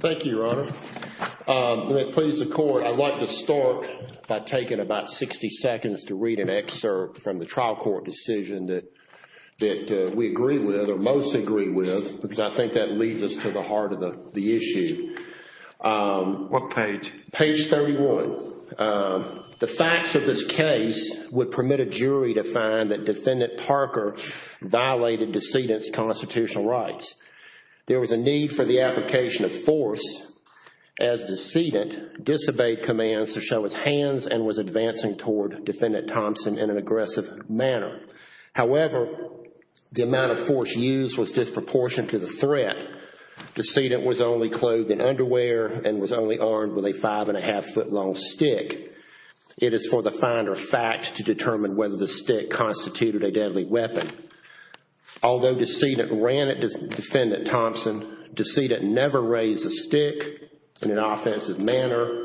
Thank you, Your Honor. Let me please the Court. I'd like to start by taking about 60 seconds to read an excerpt from the trial court decision that we agree with, or most agree with, because I think that leads us to the heart of the issue. What page? Page 31. The facts of this case would permit a jury to find that Defendant Parker violated decedent's constitutional rights. There was a need for the application of force as decedent disobeyed commands to show his hands and was advancing toward Defendant Thompson in an aggressive manner. However, the amount of force used was disproportionate to the threat. Decedent was only clothed in underwear and was only armed with a five and a half foot long stick. It is for the finder of fact to determine whether the stick constituted a deadly weapon. Although decedent ran at Defendant Thompson, decedent never raised the stick in an offensive manner,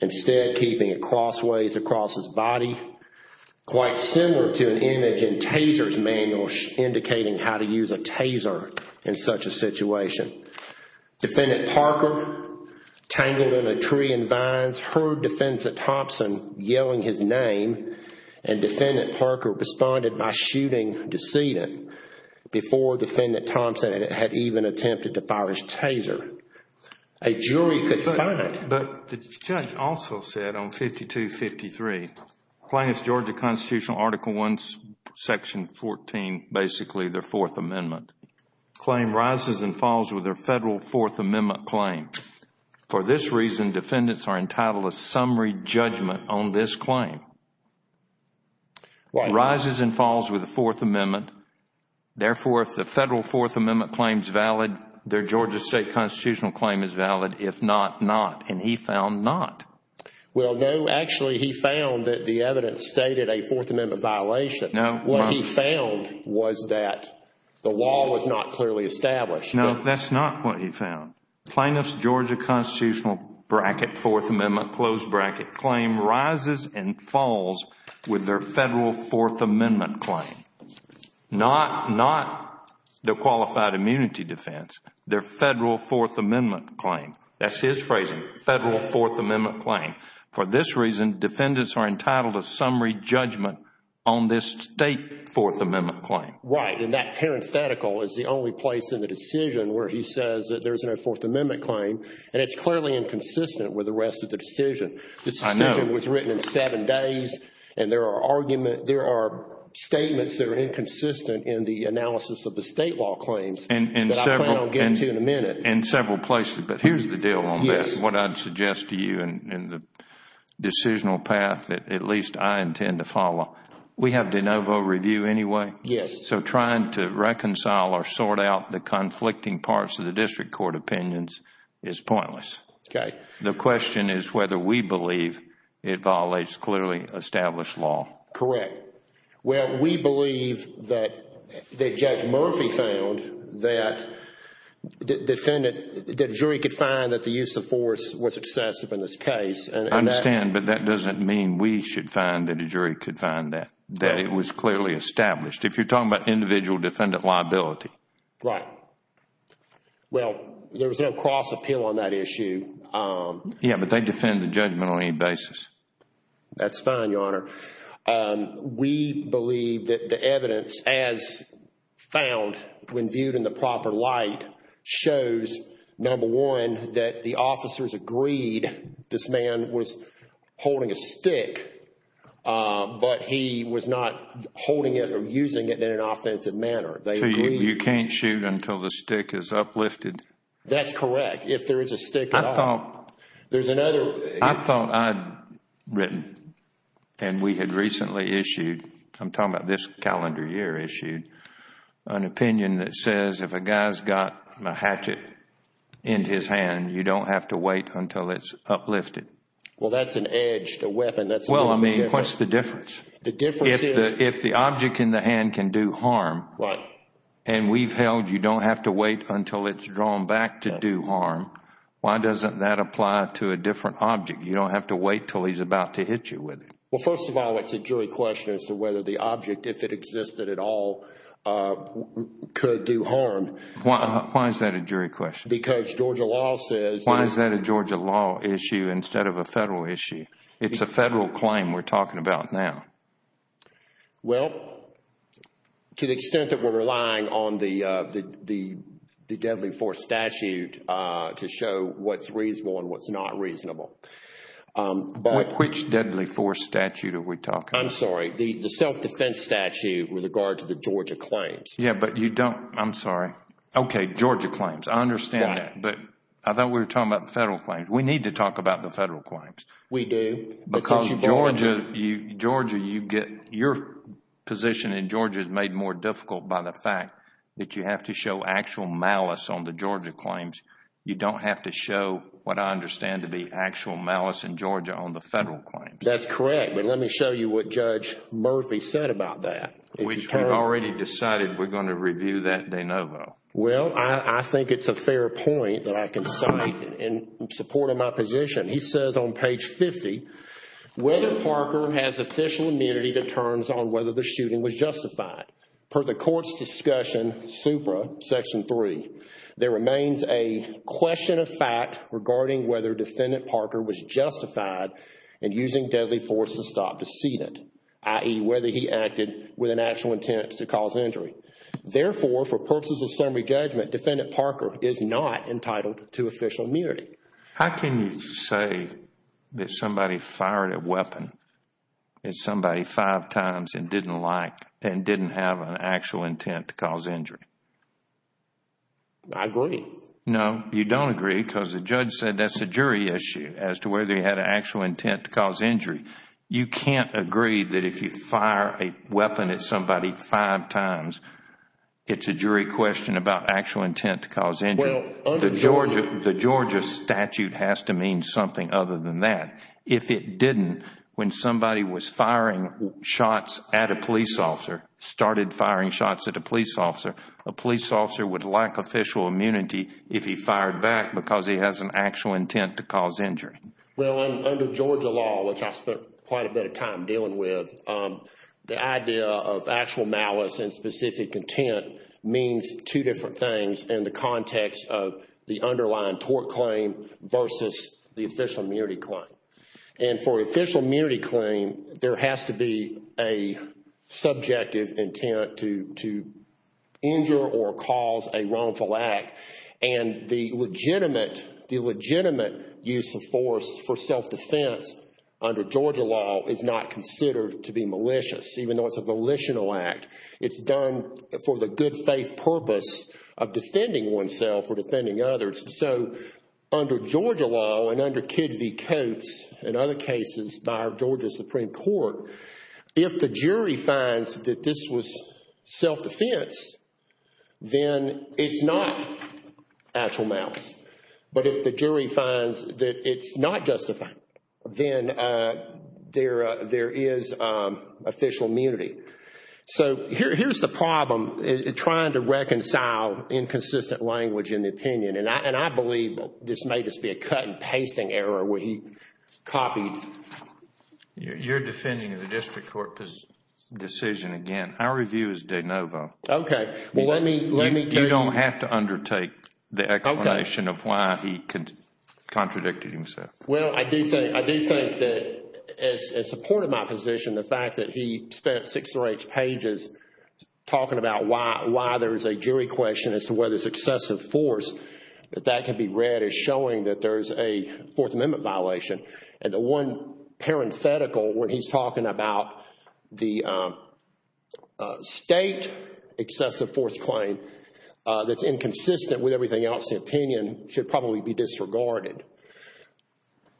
instead keeping it crossways across his body, quite similar to an image in Taser's manual indicating how to use a taser in such a situation. Defendant Parker, tangled in a tree and vines, heard Defendant Thompson yelling his name and Defendant Parker responded by shooting decedent before Defendant Thompson had even attempted to fire his taser. A jury could find... Well, no, actually he found that the evidence stated a Fourth Amendment violation. No. What he found was that the law was not clearly established. No, that's not what he found. Plaintiff's Georgia Constitutional bracket Fourth Amendment, closed bracket claim rises and falls with their Federal Fourth Amendment claim, not their qualified immunity defense, their Federal Fourth Amendment claim. That's his phrasing, Federal Fourth Amendment claim. For this reason, defendants are entitled to summary judgment on this State Fourth Amendment claim. Right, and that parenthetical is the only place in the decision where he says that there's no Fourth Amendment claim and it's clearly inconsistent with the rest of the decision. I know. This decision was written in seven days and there are arguments, there are statements that are inconsistent in the analysis of the State law claims that I plan on getting to in a minute. In several places, but here's the deal on this. Yes. What I'd suggest to you in the decisional path that at least I intend to follow, we have de novo review anyway. Yes. So trying to reconcile or sort out the conflicting parts of the district court opinions is pointless. Okay. The question is whether we believe it violates clearly established law. Correct. Well, we believe that Judge Murphy found that a jury could find that the use of force was excessive in this case. I understand, but that doesn't mean we should find that a jury could find that. That it was clearly established. If you're talking about individual defendant liability. Right. Well, there was no cross appeal on that issue. Yeah, but they defend the judgment on any basis. That's fine, Your Honor. We believe that the evidence as found when viewed in the proper light shows, number one, that the officers agreed this man was holding a stick, but he was not holding it or using it in an offensive manner. So you can't shoot until the stick is uplifted? That's correct. I thought I'd written, and we had recently issued, I'm talking about this calendar year issued, an opinion that says if a guy's got a hatchet in his hand, you don't have to wait until it's uplifted. Well, that's an edge to weapon. Well, I mean, what's the difference? The difference is. If the object in the hand can do harm. Right. And we've held you don't have to wait until it's drawn back to do harm. Why doesn't that apply to a different object? You don't have to wait until he's about to hit you with it. Well, first of all, it's a jury question as to whether the object, if it existed at all, could do harm. Why is that a jury question? Because Georgia law says. Why is that a Georgia law issue instead of a Federal issue? It's a Federal claim we're talking about now. Well, to the extent that we're relying on the deadly force statute to show what's reasonable and what's not reasonable. Which deadly force statute are we talking about? I'm sorry. The self-defense statute with regard to the Georgia claims. Yeah, but you don't. I'm sorry. Okay, Georgia claims. I understand that. But I thought we were talking about the Federal claims. We need to talk about the Federal claims. We do. Because Georgia, your position in Georgia is made more difficult by the fact that you have to show actual malice on the Georgia claims. You don't have to show what I understand to be actual malice in Georgia on the Federal claims. That's correct. But let me show you what Judge Murphy said about that. Which we've already decided we're going to review that de novo. Well, I think it's a fair point that I can cite in support of my position. He says on page 50, whether Parker has official immunity determines on whether the shooting was justified. Per the court's discussion, supra, section 3, there remains a question of fact regarding whether Defendant Parker was justified in using deadly force to stop the scene, i.e., whether he acted with an actual intent to cause injury. Therefore, for purposes of summary judgment, Defendant Parker is not entitled to official immunity. How can you say that somebody fired a weapon at somebody five times and didn't like and didn't have an actual intent to cause injury? I agree. No, you don't agree because the judge said that's a jury issue as to whether he had an actual intent to cause injury. You can't agree that if you fire a weapon at somebody five times, it's a jury question about actual intent to cause injury. The Georgia statute has to mean something other than that. If it didn't, when somebody was firing shots at a police officer, started firing shots at a police officer, a police officer would lack official immunity if he fired back because he has an actual intent to cause injury. Well, under Georgia law, which I spent quite a bit of time dealing with, the idea of actual malice and specific intent means two different things in the context of the underlying tort claim versus the official immunity claim. For official immunity claim, there has to be a subjective intent to injure or cause a wrongful act. The legitimate use of force for self-defense under Georgia law is not considered to be malicious, even though it's a volitional act. It's done for the good faith purpose of defending oneself or defending others. Under Georgia law and under Kid v. Coates and other cases by our Georgia Supreme Court, if the jury finds that this was self-defense, then it's not actual malice. But if the jury finds that it's not justified, then there is official immunity. Here's the problem in trying to reconcile inconsistent language in the opinion. I believe this may just be a cut and pasting error where he copied. You're defending the district court's decision again. Our review is de novo. Okay. You don't have to undertake the explanation of why he contradicted himself. Well, I do say that in support of my position, the fact that he spent six or eight pages talking about why there's a jury question as to whether it's excessive force, that that can be read as showing that there's a Fourth Amendment violation. The one parenthetical where he's talking about the state excessive force claim that's inconsistent with everything else, the opinion should probably be disregarded.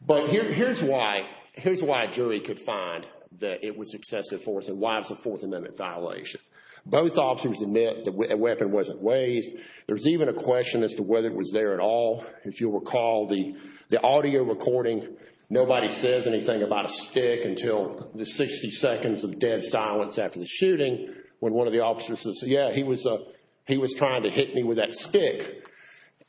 But here's why a jury could find that it was excessive force and why it's a Fourth Amendment violation. Both officers admit the weapon wasn't waived. There's even a question as to whether it was there at all. If you'll recall the audio recording, nobody says anything about a stick until the 60 seconds of dead silence after the shooting when one of the officers says, yeah, he was trying to hit me with that stick.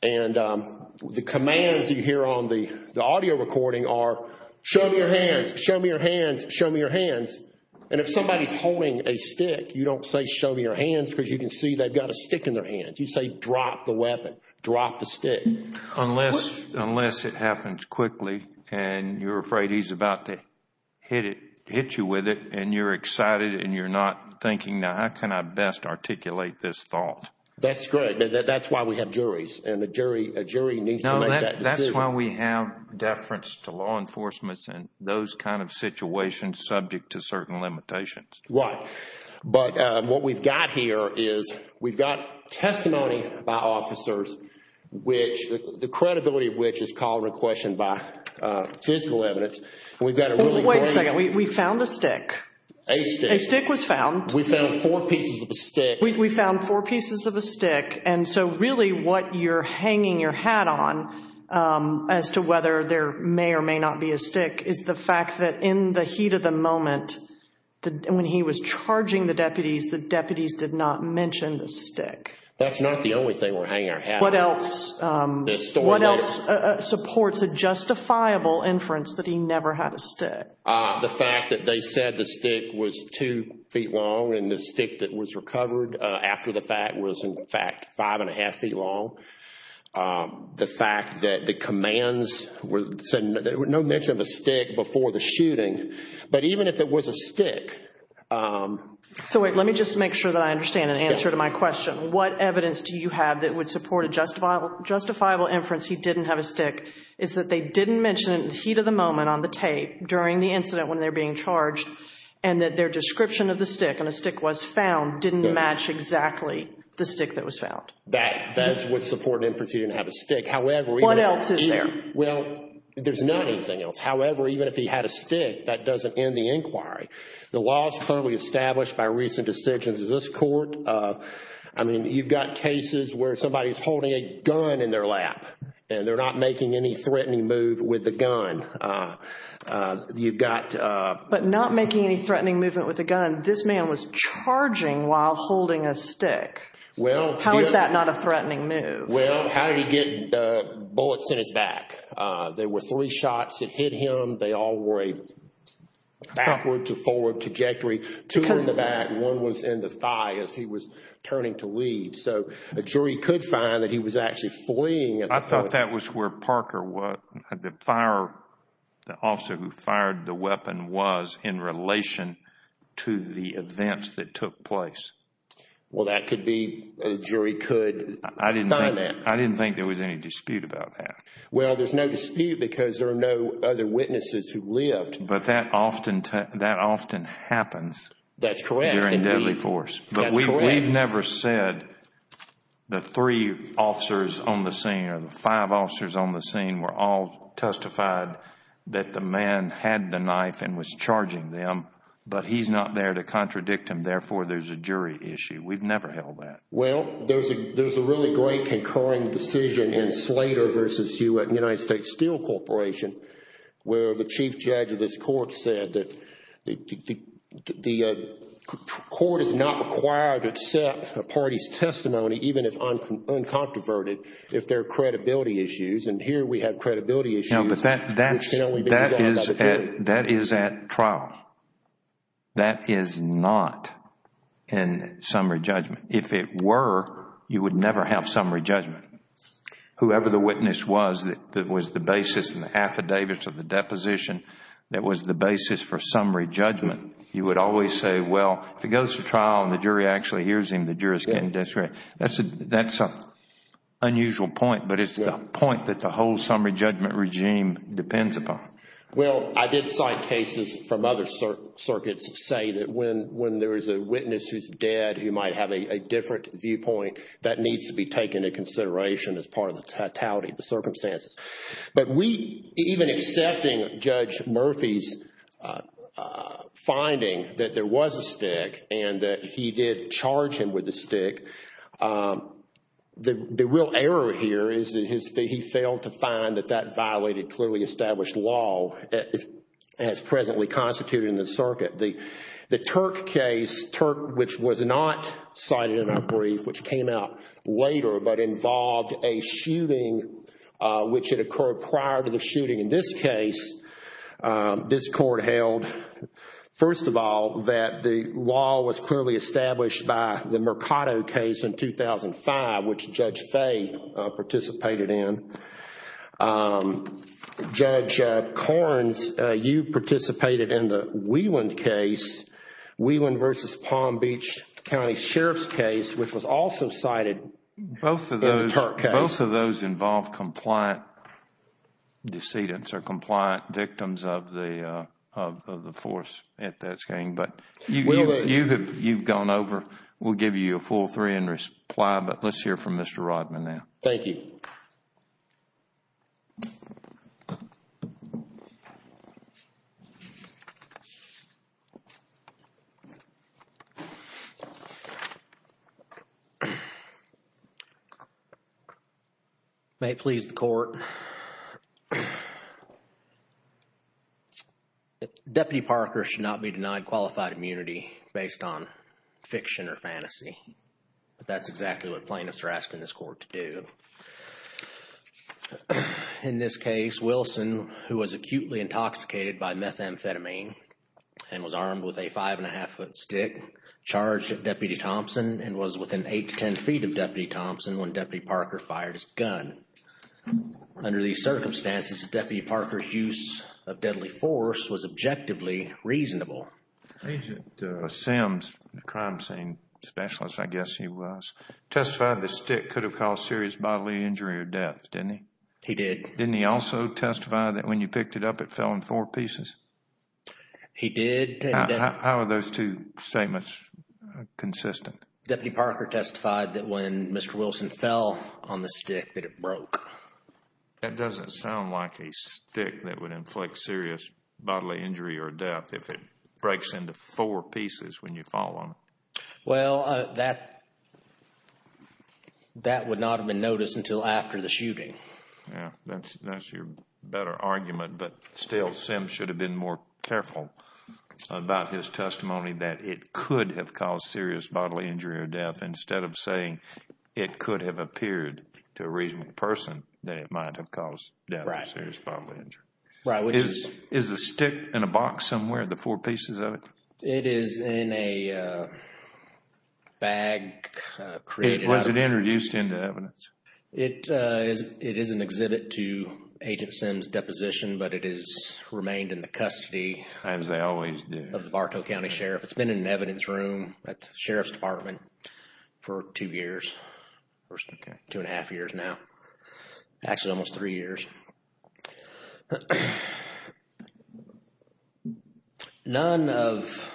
And the commands you hear on the audio recording are, show me your hands, show me your hands, show me your hands. And if somebody's holding a stick, you don't say show me your hands because you can see they've got a stick in their hands. You say drop the weapon, drop the stick. Unless it happens quickly and you're afraid he's about to hit you with it and you're excited and you're not thinking, how can I best articulate this thought? That's good. That's why we have juries and a jury needs to make that decision. That's why we have deference to law enforcement and those kind of situations subject to certain limitations. Right. But what we've got here is we've got testimony by officers, the credibility of which is called into question by physical evidence. Wait a second. We found a stick. A stick. A stick was found. We found four pieces of a stick. We found four pieces of a stick. And so really what you're hanging your hat on as to whether there may or may not be a stick is the fact that in the heat of the moment, when he was charging the deputies, the deputies did not mention the stick. That's not the only thing we're hanging our hat on. What else supports a justifiable inference that he never had a stick? The fact that they said the stick was two feet long and the stick that was recovered after the fact was in fact five and a half feet long. The fact that the commands said no mention of a stick before the shooting. But even if it was a stick. So wait, let me just make sure that I understand and answer to my question. What evidence do you have that would support a justifiable inference he didn't have a stick? Is that they didn't mention it in the heat of the moment on the tape during the incident when they're being charged and that their description of the stick, and a stick was found, didn't match exactly the stick that was found. That is what supports an inference he didn't have a stick. What else is there? Well, there's not anything else. However, even if he had a stick, that doesn't end the inquiry. The law is currently established by recent decisions of this court. I mean, you've got cases where somebody's holding a gun in their lap and they're not making any threatening move with the gun. But not making any threatening movement with a gun. This man was charging while holding a stick. How is that not a threatening move? Well, how did he get bullets in his back? There were three shots that hit him. They all were a backward to forward trajectory. Two in the back and one was in the thigh as he was turning to leave. So, a jury could find that he was actually fleeing. I thought that was where Parker, the officer who fired the weapon, was in relation to the events that took place. Well, that could be, a jury could find that. I didn't think there was any dispute about that. Well, there's no dispute because there are no other witnesses who lived. But that often happens. That's correct. During deadly force. But we've never said the three officers on the scene or the five officers on the scene were all testified that the man had the knife and was charging them. But he's not there to contradict him. Therefore, there's a jury issue. We've never held that. Well, there's a really great concurring decision in Slater v. U.S. Steel Corporation where the chief judge of this court said that the court is not required to accept a party's testimony even if uncontroverted if there are credibility issues. And here we have credibility issues. That is at trial. That is not in summary judgment. If it were, you would never have summary judgment. Whoever the witness was that was the basis in the affidavits of the deposition that was the basis for summary judgment, you would always say, well, if it goes to trial and the jury actually hears him, the jurors can disagree. That's an unusual point, but it's a point that the whole summary judgment regime depends upon. Well, I did cite cases from other circuits say that when there is a witness who's dead, he might have a different viewpoint. That needs to be taken into consideration as part of the totality of the circumstances. But we, even accepting Judge Murphy's finding that there was a stick and that he did charge him with the stick, the real error here is that he failed to find that that violated clearly established law. As presently constituted in the circuit. The Turk case, Turk, which was not cited in our brief, which came out later, but involved a shooting which had occurred prior to the shooting in this case. This court held, first of all, that the law was clearly established by the Mercado case in 2005, which Judge Fay participated in. Judge Corns, you participated in the Wieland case, Wieland versus Palm Beach County Sheriff's case, which was also cited in the Turk case. Both of those involved compliant decedents or compliant victims of the force at that time. But you've gone over, we'll give you a full three and reply, but let's hear from Mr. Rodman now. Thank you. May it please the court. Deputy Parker should not be denied qualified immunity based on fiction or fantasy. But that's exactly what plaintiffs are asking this court to do. In this case, Wilson, who was acutely intoxicated by methamphetamine and was armed with a five and a half foot stick, charged Deputy Thompson and was within eight to ten feet of Deputy Thompson when Deputy Parker fired his gun. Under these circumstances, Deputy Parker's use of deadly force was objectively reasonable. Agent Sims, the crime scene specialist, I guess he was, testified the stick could have caused serious bodily injury or death, didn't he? He did. Didn't he also testify that when you picked it up, it fell in four pieces? He did. How are those two statements consistent? Deputy Parker testified that when Mr. Wilson fell on the stick, that it broke. That doesn't sound like a stick that would inflict serious bodily injury or death if it breaks into four pieces when you fall on it. Well, that would not have been noticed until after the shooting. That's your better argument. But still, Sims should have been more careful about his testimony that it could have caused serious bodily injury or death instead of saying it could have appeared to a reasonable person that it might have caused death or serious bodily injury. Is the stick in a box somewhere, the four pieces of it? It is in a bag. Was it introduced into evidence? It is an exhibit to Agent Sims' deposition, but it has remained in the custody. As they always do. Of the Bartow County Sheriff. It's been in an evidence room at the Sheriff's Department for two years. Two and a half years now. Actually, almost three years. Thank you, Judge. None of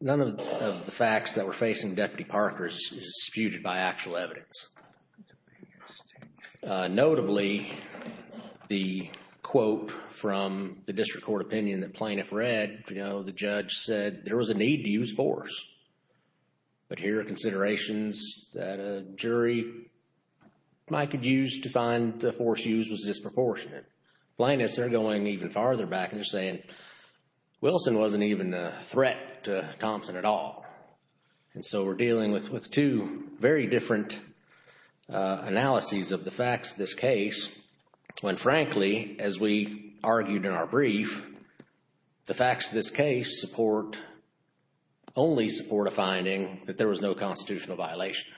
the facts that we're facing, Deputy Parker, is disputed by actual evidence. Notably, the quote from the district court opinion that plaintiff read, you know, the judge said there was a need to use force. But here are considerations that a jury might have used to find the force used was disproportionate. Plaintiffs are going even farther back and saying Wilson wasn't even a threat to Thompson at all. And so we're dealing with two very different analyses of the facts of this case. When frankly, as we argued in our brief, the facts of this case support, only support a finding that there was no constitutional violation.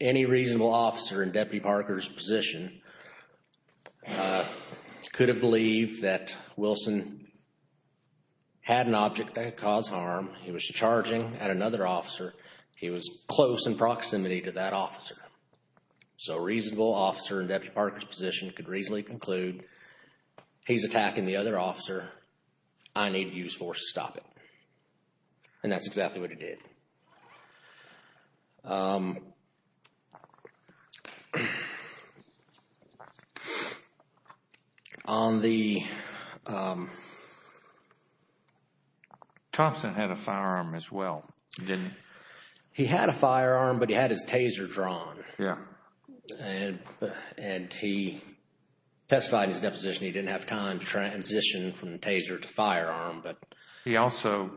Any reasonable officer in Deputy Parker's position could have believed that Wilson had an object that caused harm. He was charging at another officer. He was close in proximity to that officer. So a reasonable officer in Deputy Parker's position could reasonably conclude he's attacking the other officer. I need to use force to stop it. And that's exactly what he did. Thompson had a firearm as well. He didn't. He had a firearm, but he had his taser drawn. Yeah. And he testified in his deposition he didn't have time to transition from taser to firearm. He also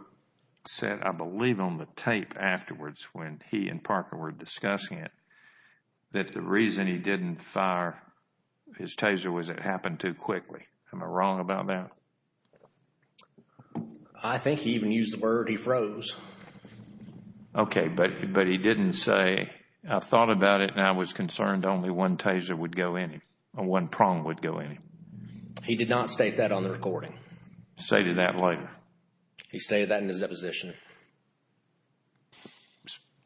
said, I believe on the tape afterwards when he and Parker were discussing it, that the reason he didn't fire his taser was it happened too quickly. Am I wrong about that? I think he even used the word he froze. Okay, but he didn't say, I thought about it and I was concerned only one taser would go in him, or one prong would go in him. He did not state that on the recording. He stated that later. He stated that in his deposition.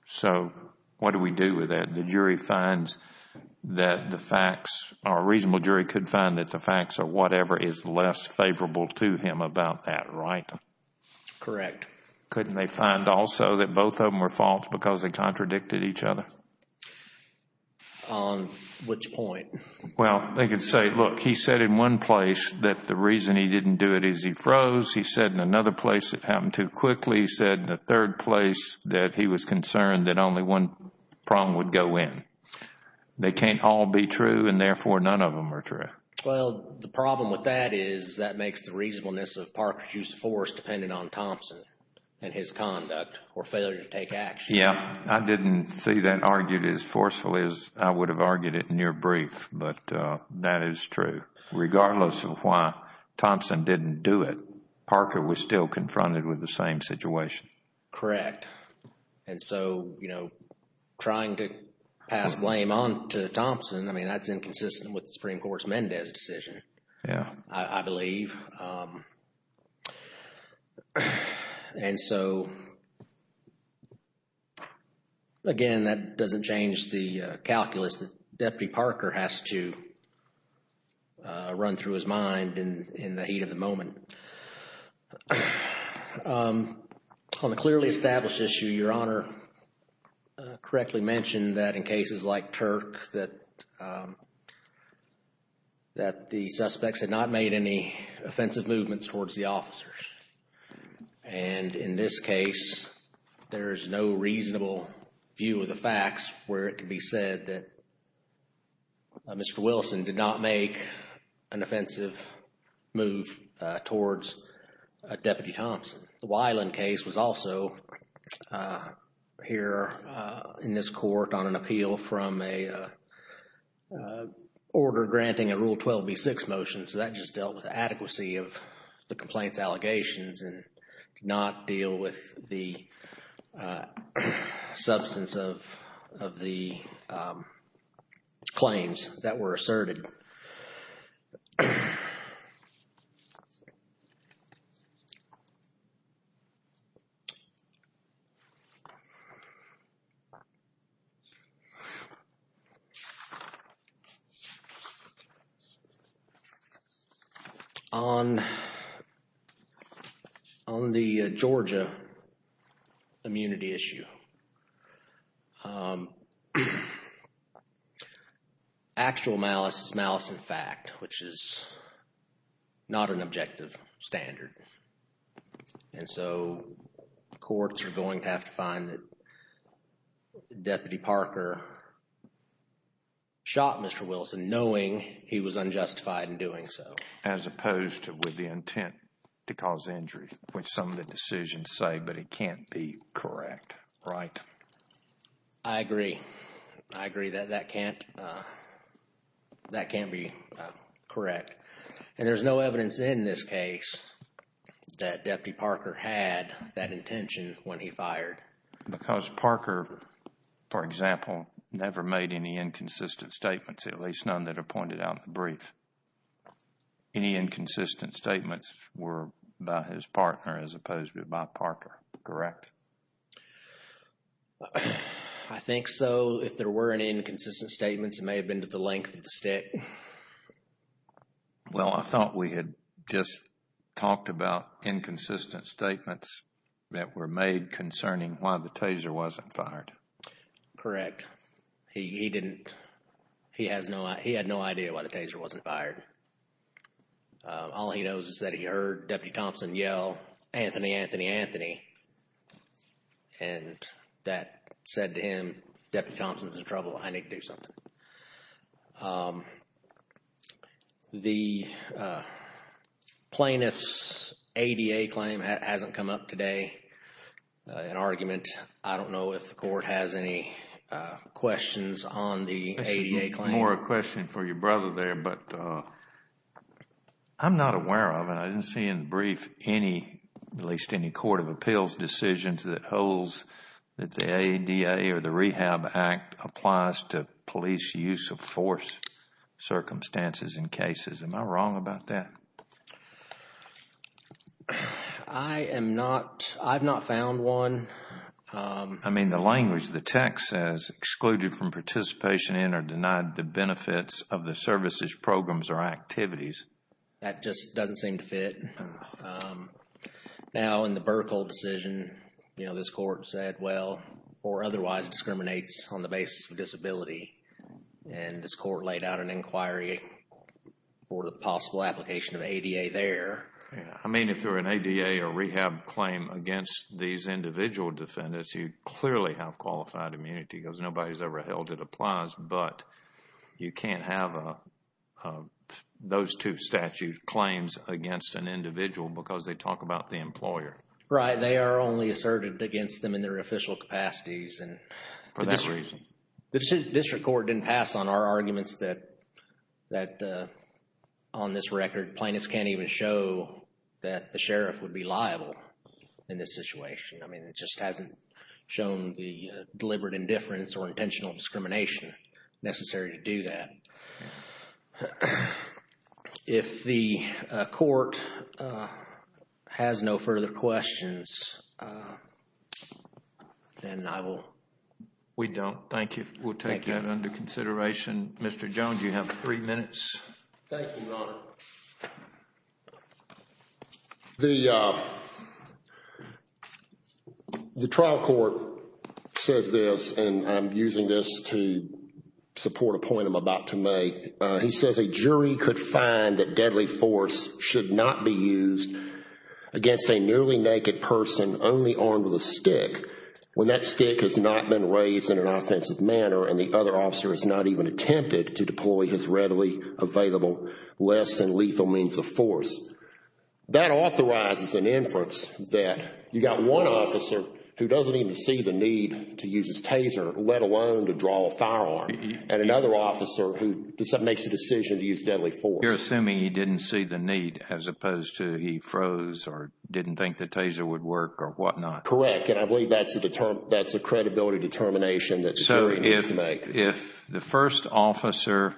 So what do we do with that? The jury finds that the facts, or a reasonable jury could find that the facts or whatever is less favorable to him about that, right? Correct. Couldn't they find also that both of them were false because they contradicted each other? On which point? Well, they could say, look, he said in one place that the reason he didn't do it is he froze. He said in another place it happened too quickly. He said in a third place that he was concerned that only one prong would go in. They can't all be true and therefore none of them are true. Well, the problem with that is that makes the reasonableness of Parker's use of force dependent on Thompson and his conduct or failure to take action. Yeah, I didn't see that argued as forcefully as I would have argued it in your brief, but that is true. Regardless of why Thompson didn't do it, Parker was still confronted with the same situation. Correct. And so, you know, trying to pass blame on to Thompson, I mean, that's inconsistent with the Supreme Court's Mendez decision, I believe. And so, again, that doesn't change the calculus that Deputy Parker has to run through his mind in the heat of the moment. On a clearly established issue, Your Honor, correctly mentioned that in cases like Turk that the suspects had not made any offensive movements towards the officers. And in this case, there is no reasonable view of the facts where it can be said that Mr. Wilson did not make an offensive move towards Deputy Thompson. The Weiland case was also here in this Court on an appeal from a order granting a Rule 12b-6 motion. So that just dealt with the adequacy of the complaint's allegations and did not deal with the substance of the claims that were asserted. On the Georgia immunity issue, actual malice is malice in fact, which is not an objective standard. And so, courts are going to have to find that Deputy Parker shot Mr. Wilson knowing he was unjustified in doing so. As opposed to with the intent to cause injury, which some of the decisions say, but it can't be correct, right? I agree. I agree that that can't be correct. And there's no evidence in this case that Deputy Parker had that intention when he fired. Because Parker, for example, never made any inconsistent statements, at least none that are pointed out in the brief. Any inconsistent statements were by his partner as opposed to by Parker, correct? I think so. If there were any inconsistent statements, it may have been to the length of the stick. Well, I thought we had just talked about inconsistent statements that were made concerning why the Taser wasn't fired. Correct. He had no idea why the Taser wasn't fired. All he knows is that he heard Deputy Thompson yell, Anthony, Anthony, Anthony. And that said to him, Deputy Thompson's in trouble. I need to do something. The plaintiff's ADA claim hasn't come up today in argument. I don't know if the court has any questions on the ADA claim. One more question for your brother there, but I'm not aware of it. I didn't see in the brief any, at least any court of appeals decisions that holds that the ADA or the Rehab Act applies to police use of force circumstances in cases. Am I wrong about that? I am not. I've not found one. I mean, the language, the text says excluded from participation in or denied the benefits of the services, programs, or activities. That just doesn't seem to fit. Now, in the Burkle decision, you know, this court said, well, or otherwise discriminates on the basis of disability. And this court laid out an inquiry for the possible application of ADA there. I mean, if you're an ADA or rehab claim against these individual defendants, you clearly have qualified immunity because nobody's ever held it applies. But you can't have those two statute claims against an individual because they talk about the employer. Right. They are only asserted against them in their official capacities. For that reason. The district court didn't pass on our arguments that on this record, plaintiffs can't even show that the sheriff would be liable in this situation. I mean, it just hasn't shown the deliberate indifference or intentional discrimination necessary to do that. If the court has no further questions, then I will. We don't. Thank you. We'll take that under consideration. Mr. Jones, you have three minutes. Thank you, Your Honor. The trial court says this, and I'm using this to support a point I'm about to make. He says a jury could find that deadly force should not be used against a nearly naked person only armed with a stick when that stick has not been raised in an offensive manner and the other officer has not even attempted to deploy his readily available less than lethal means of force. That authorizes an inference that you got one officer who doesn't even see the need to use his taser, let alone to draw a firearm, and another officer who makes the decision to use deadly force. You're assuming he didn't see the need as opposed to he froze or didn't think the taser would work or whatnot. Correct, and I believe that's a credibility determination that the jury needs to make. So if the first officer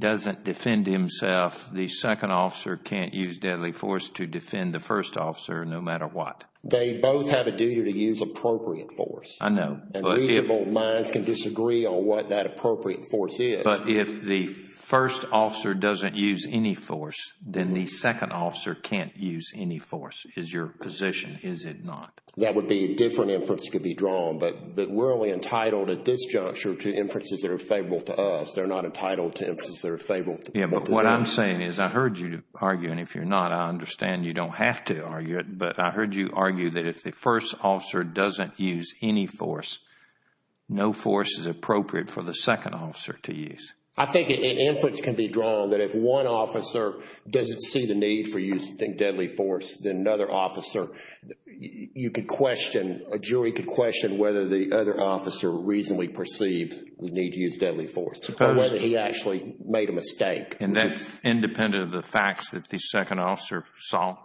doesn't defend himself, the second officer can't use deadly force to defend the first officer no matter what. They both have a duty to use appropriate force. I know. And reasonable minds can disagree on what that appropriate force is. But if the first officer doesn't use any force, then the second officer can't use any force. Is your position, is it not? That would be a different inference could be drawn. But we're only entitled at this juncture to inferences that are favorable to us. They're not entitled to inferences that are favorable to them. Yeah, but what I'm saying is I heard you arguing. If you're not, I understand you don't have to argue it. But I heard you argue that if the first officer doesn't use any force, no force is appropriate for the second officer to use. I think an inference can be drawn that if one officer doesn't see the need for using deadly force, then another officer, you could question, a jury could question whether the other officer reasonably perceived the need to use deadly force. Or whether he actually made a mistake. And that's independent of the facts that the second officer saw.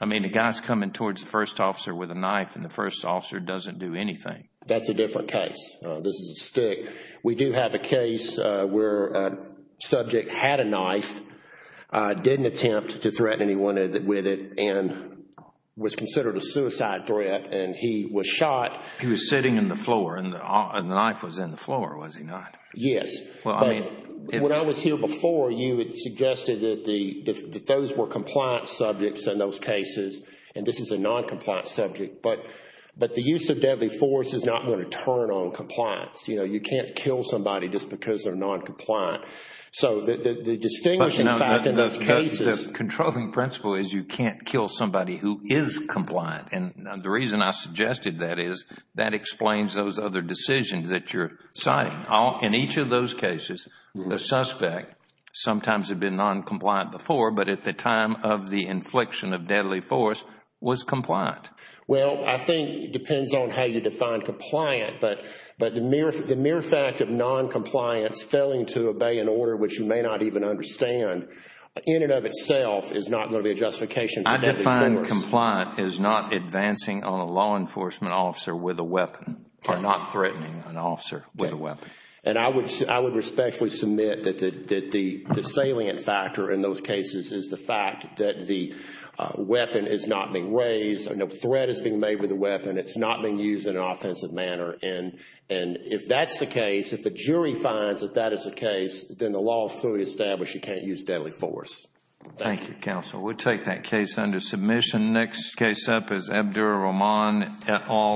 I mean, the guy's coming towards the first officer with a knife and the first officer doesn't do anything. That's a different case. This is a stick. We do have a case where a subject had a knife, didn't attempt to threaten anyone with it, and was considered a suicide threat and he was shot. He was sitting in the floor and the knife was in the floor, was he not? Yes. When I was here before, you had suggested that those were compliant subjects in those cases. And this is a non-compliant subject. But the use of deadly force is not going to turn on compliance. You can't kill somebody just because they're non-compliant. So the distinguishing fact in those cases... The controlling principle is you can't kill somebody who is compliant. And the reason I suggested that is that explains those other decisions that you're citing. In each of those cases, the suspect, sometimes had been non-compliant before, but at the time of the infliction of deadly force, was compliant. Well, I think it depends on how you define compliant. But the mere fact of non-compliance, failing to obey an order which you may not even understand, in and of itself is not going to be a justification for deadly force. I define compliant as not advancing on a law enforcement officer with a weapon or not threatening an officer with a weapon. And I would respectfully submit that the salient factor in those cases is the fact that the weapon is not being raised. No threat is being made with the weapon. It's not being used in an offensive manner. And if that's the case, if the jury finds that that is the case, then the law is clearly established you can't use deadly force. Thank you, counsel. We'll take that case under submission. Next case up is Abdur Rahman et al.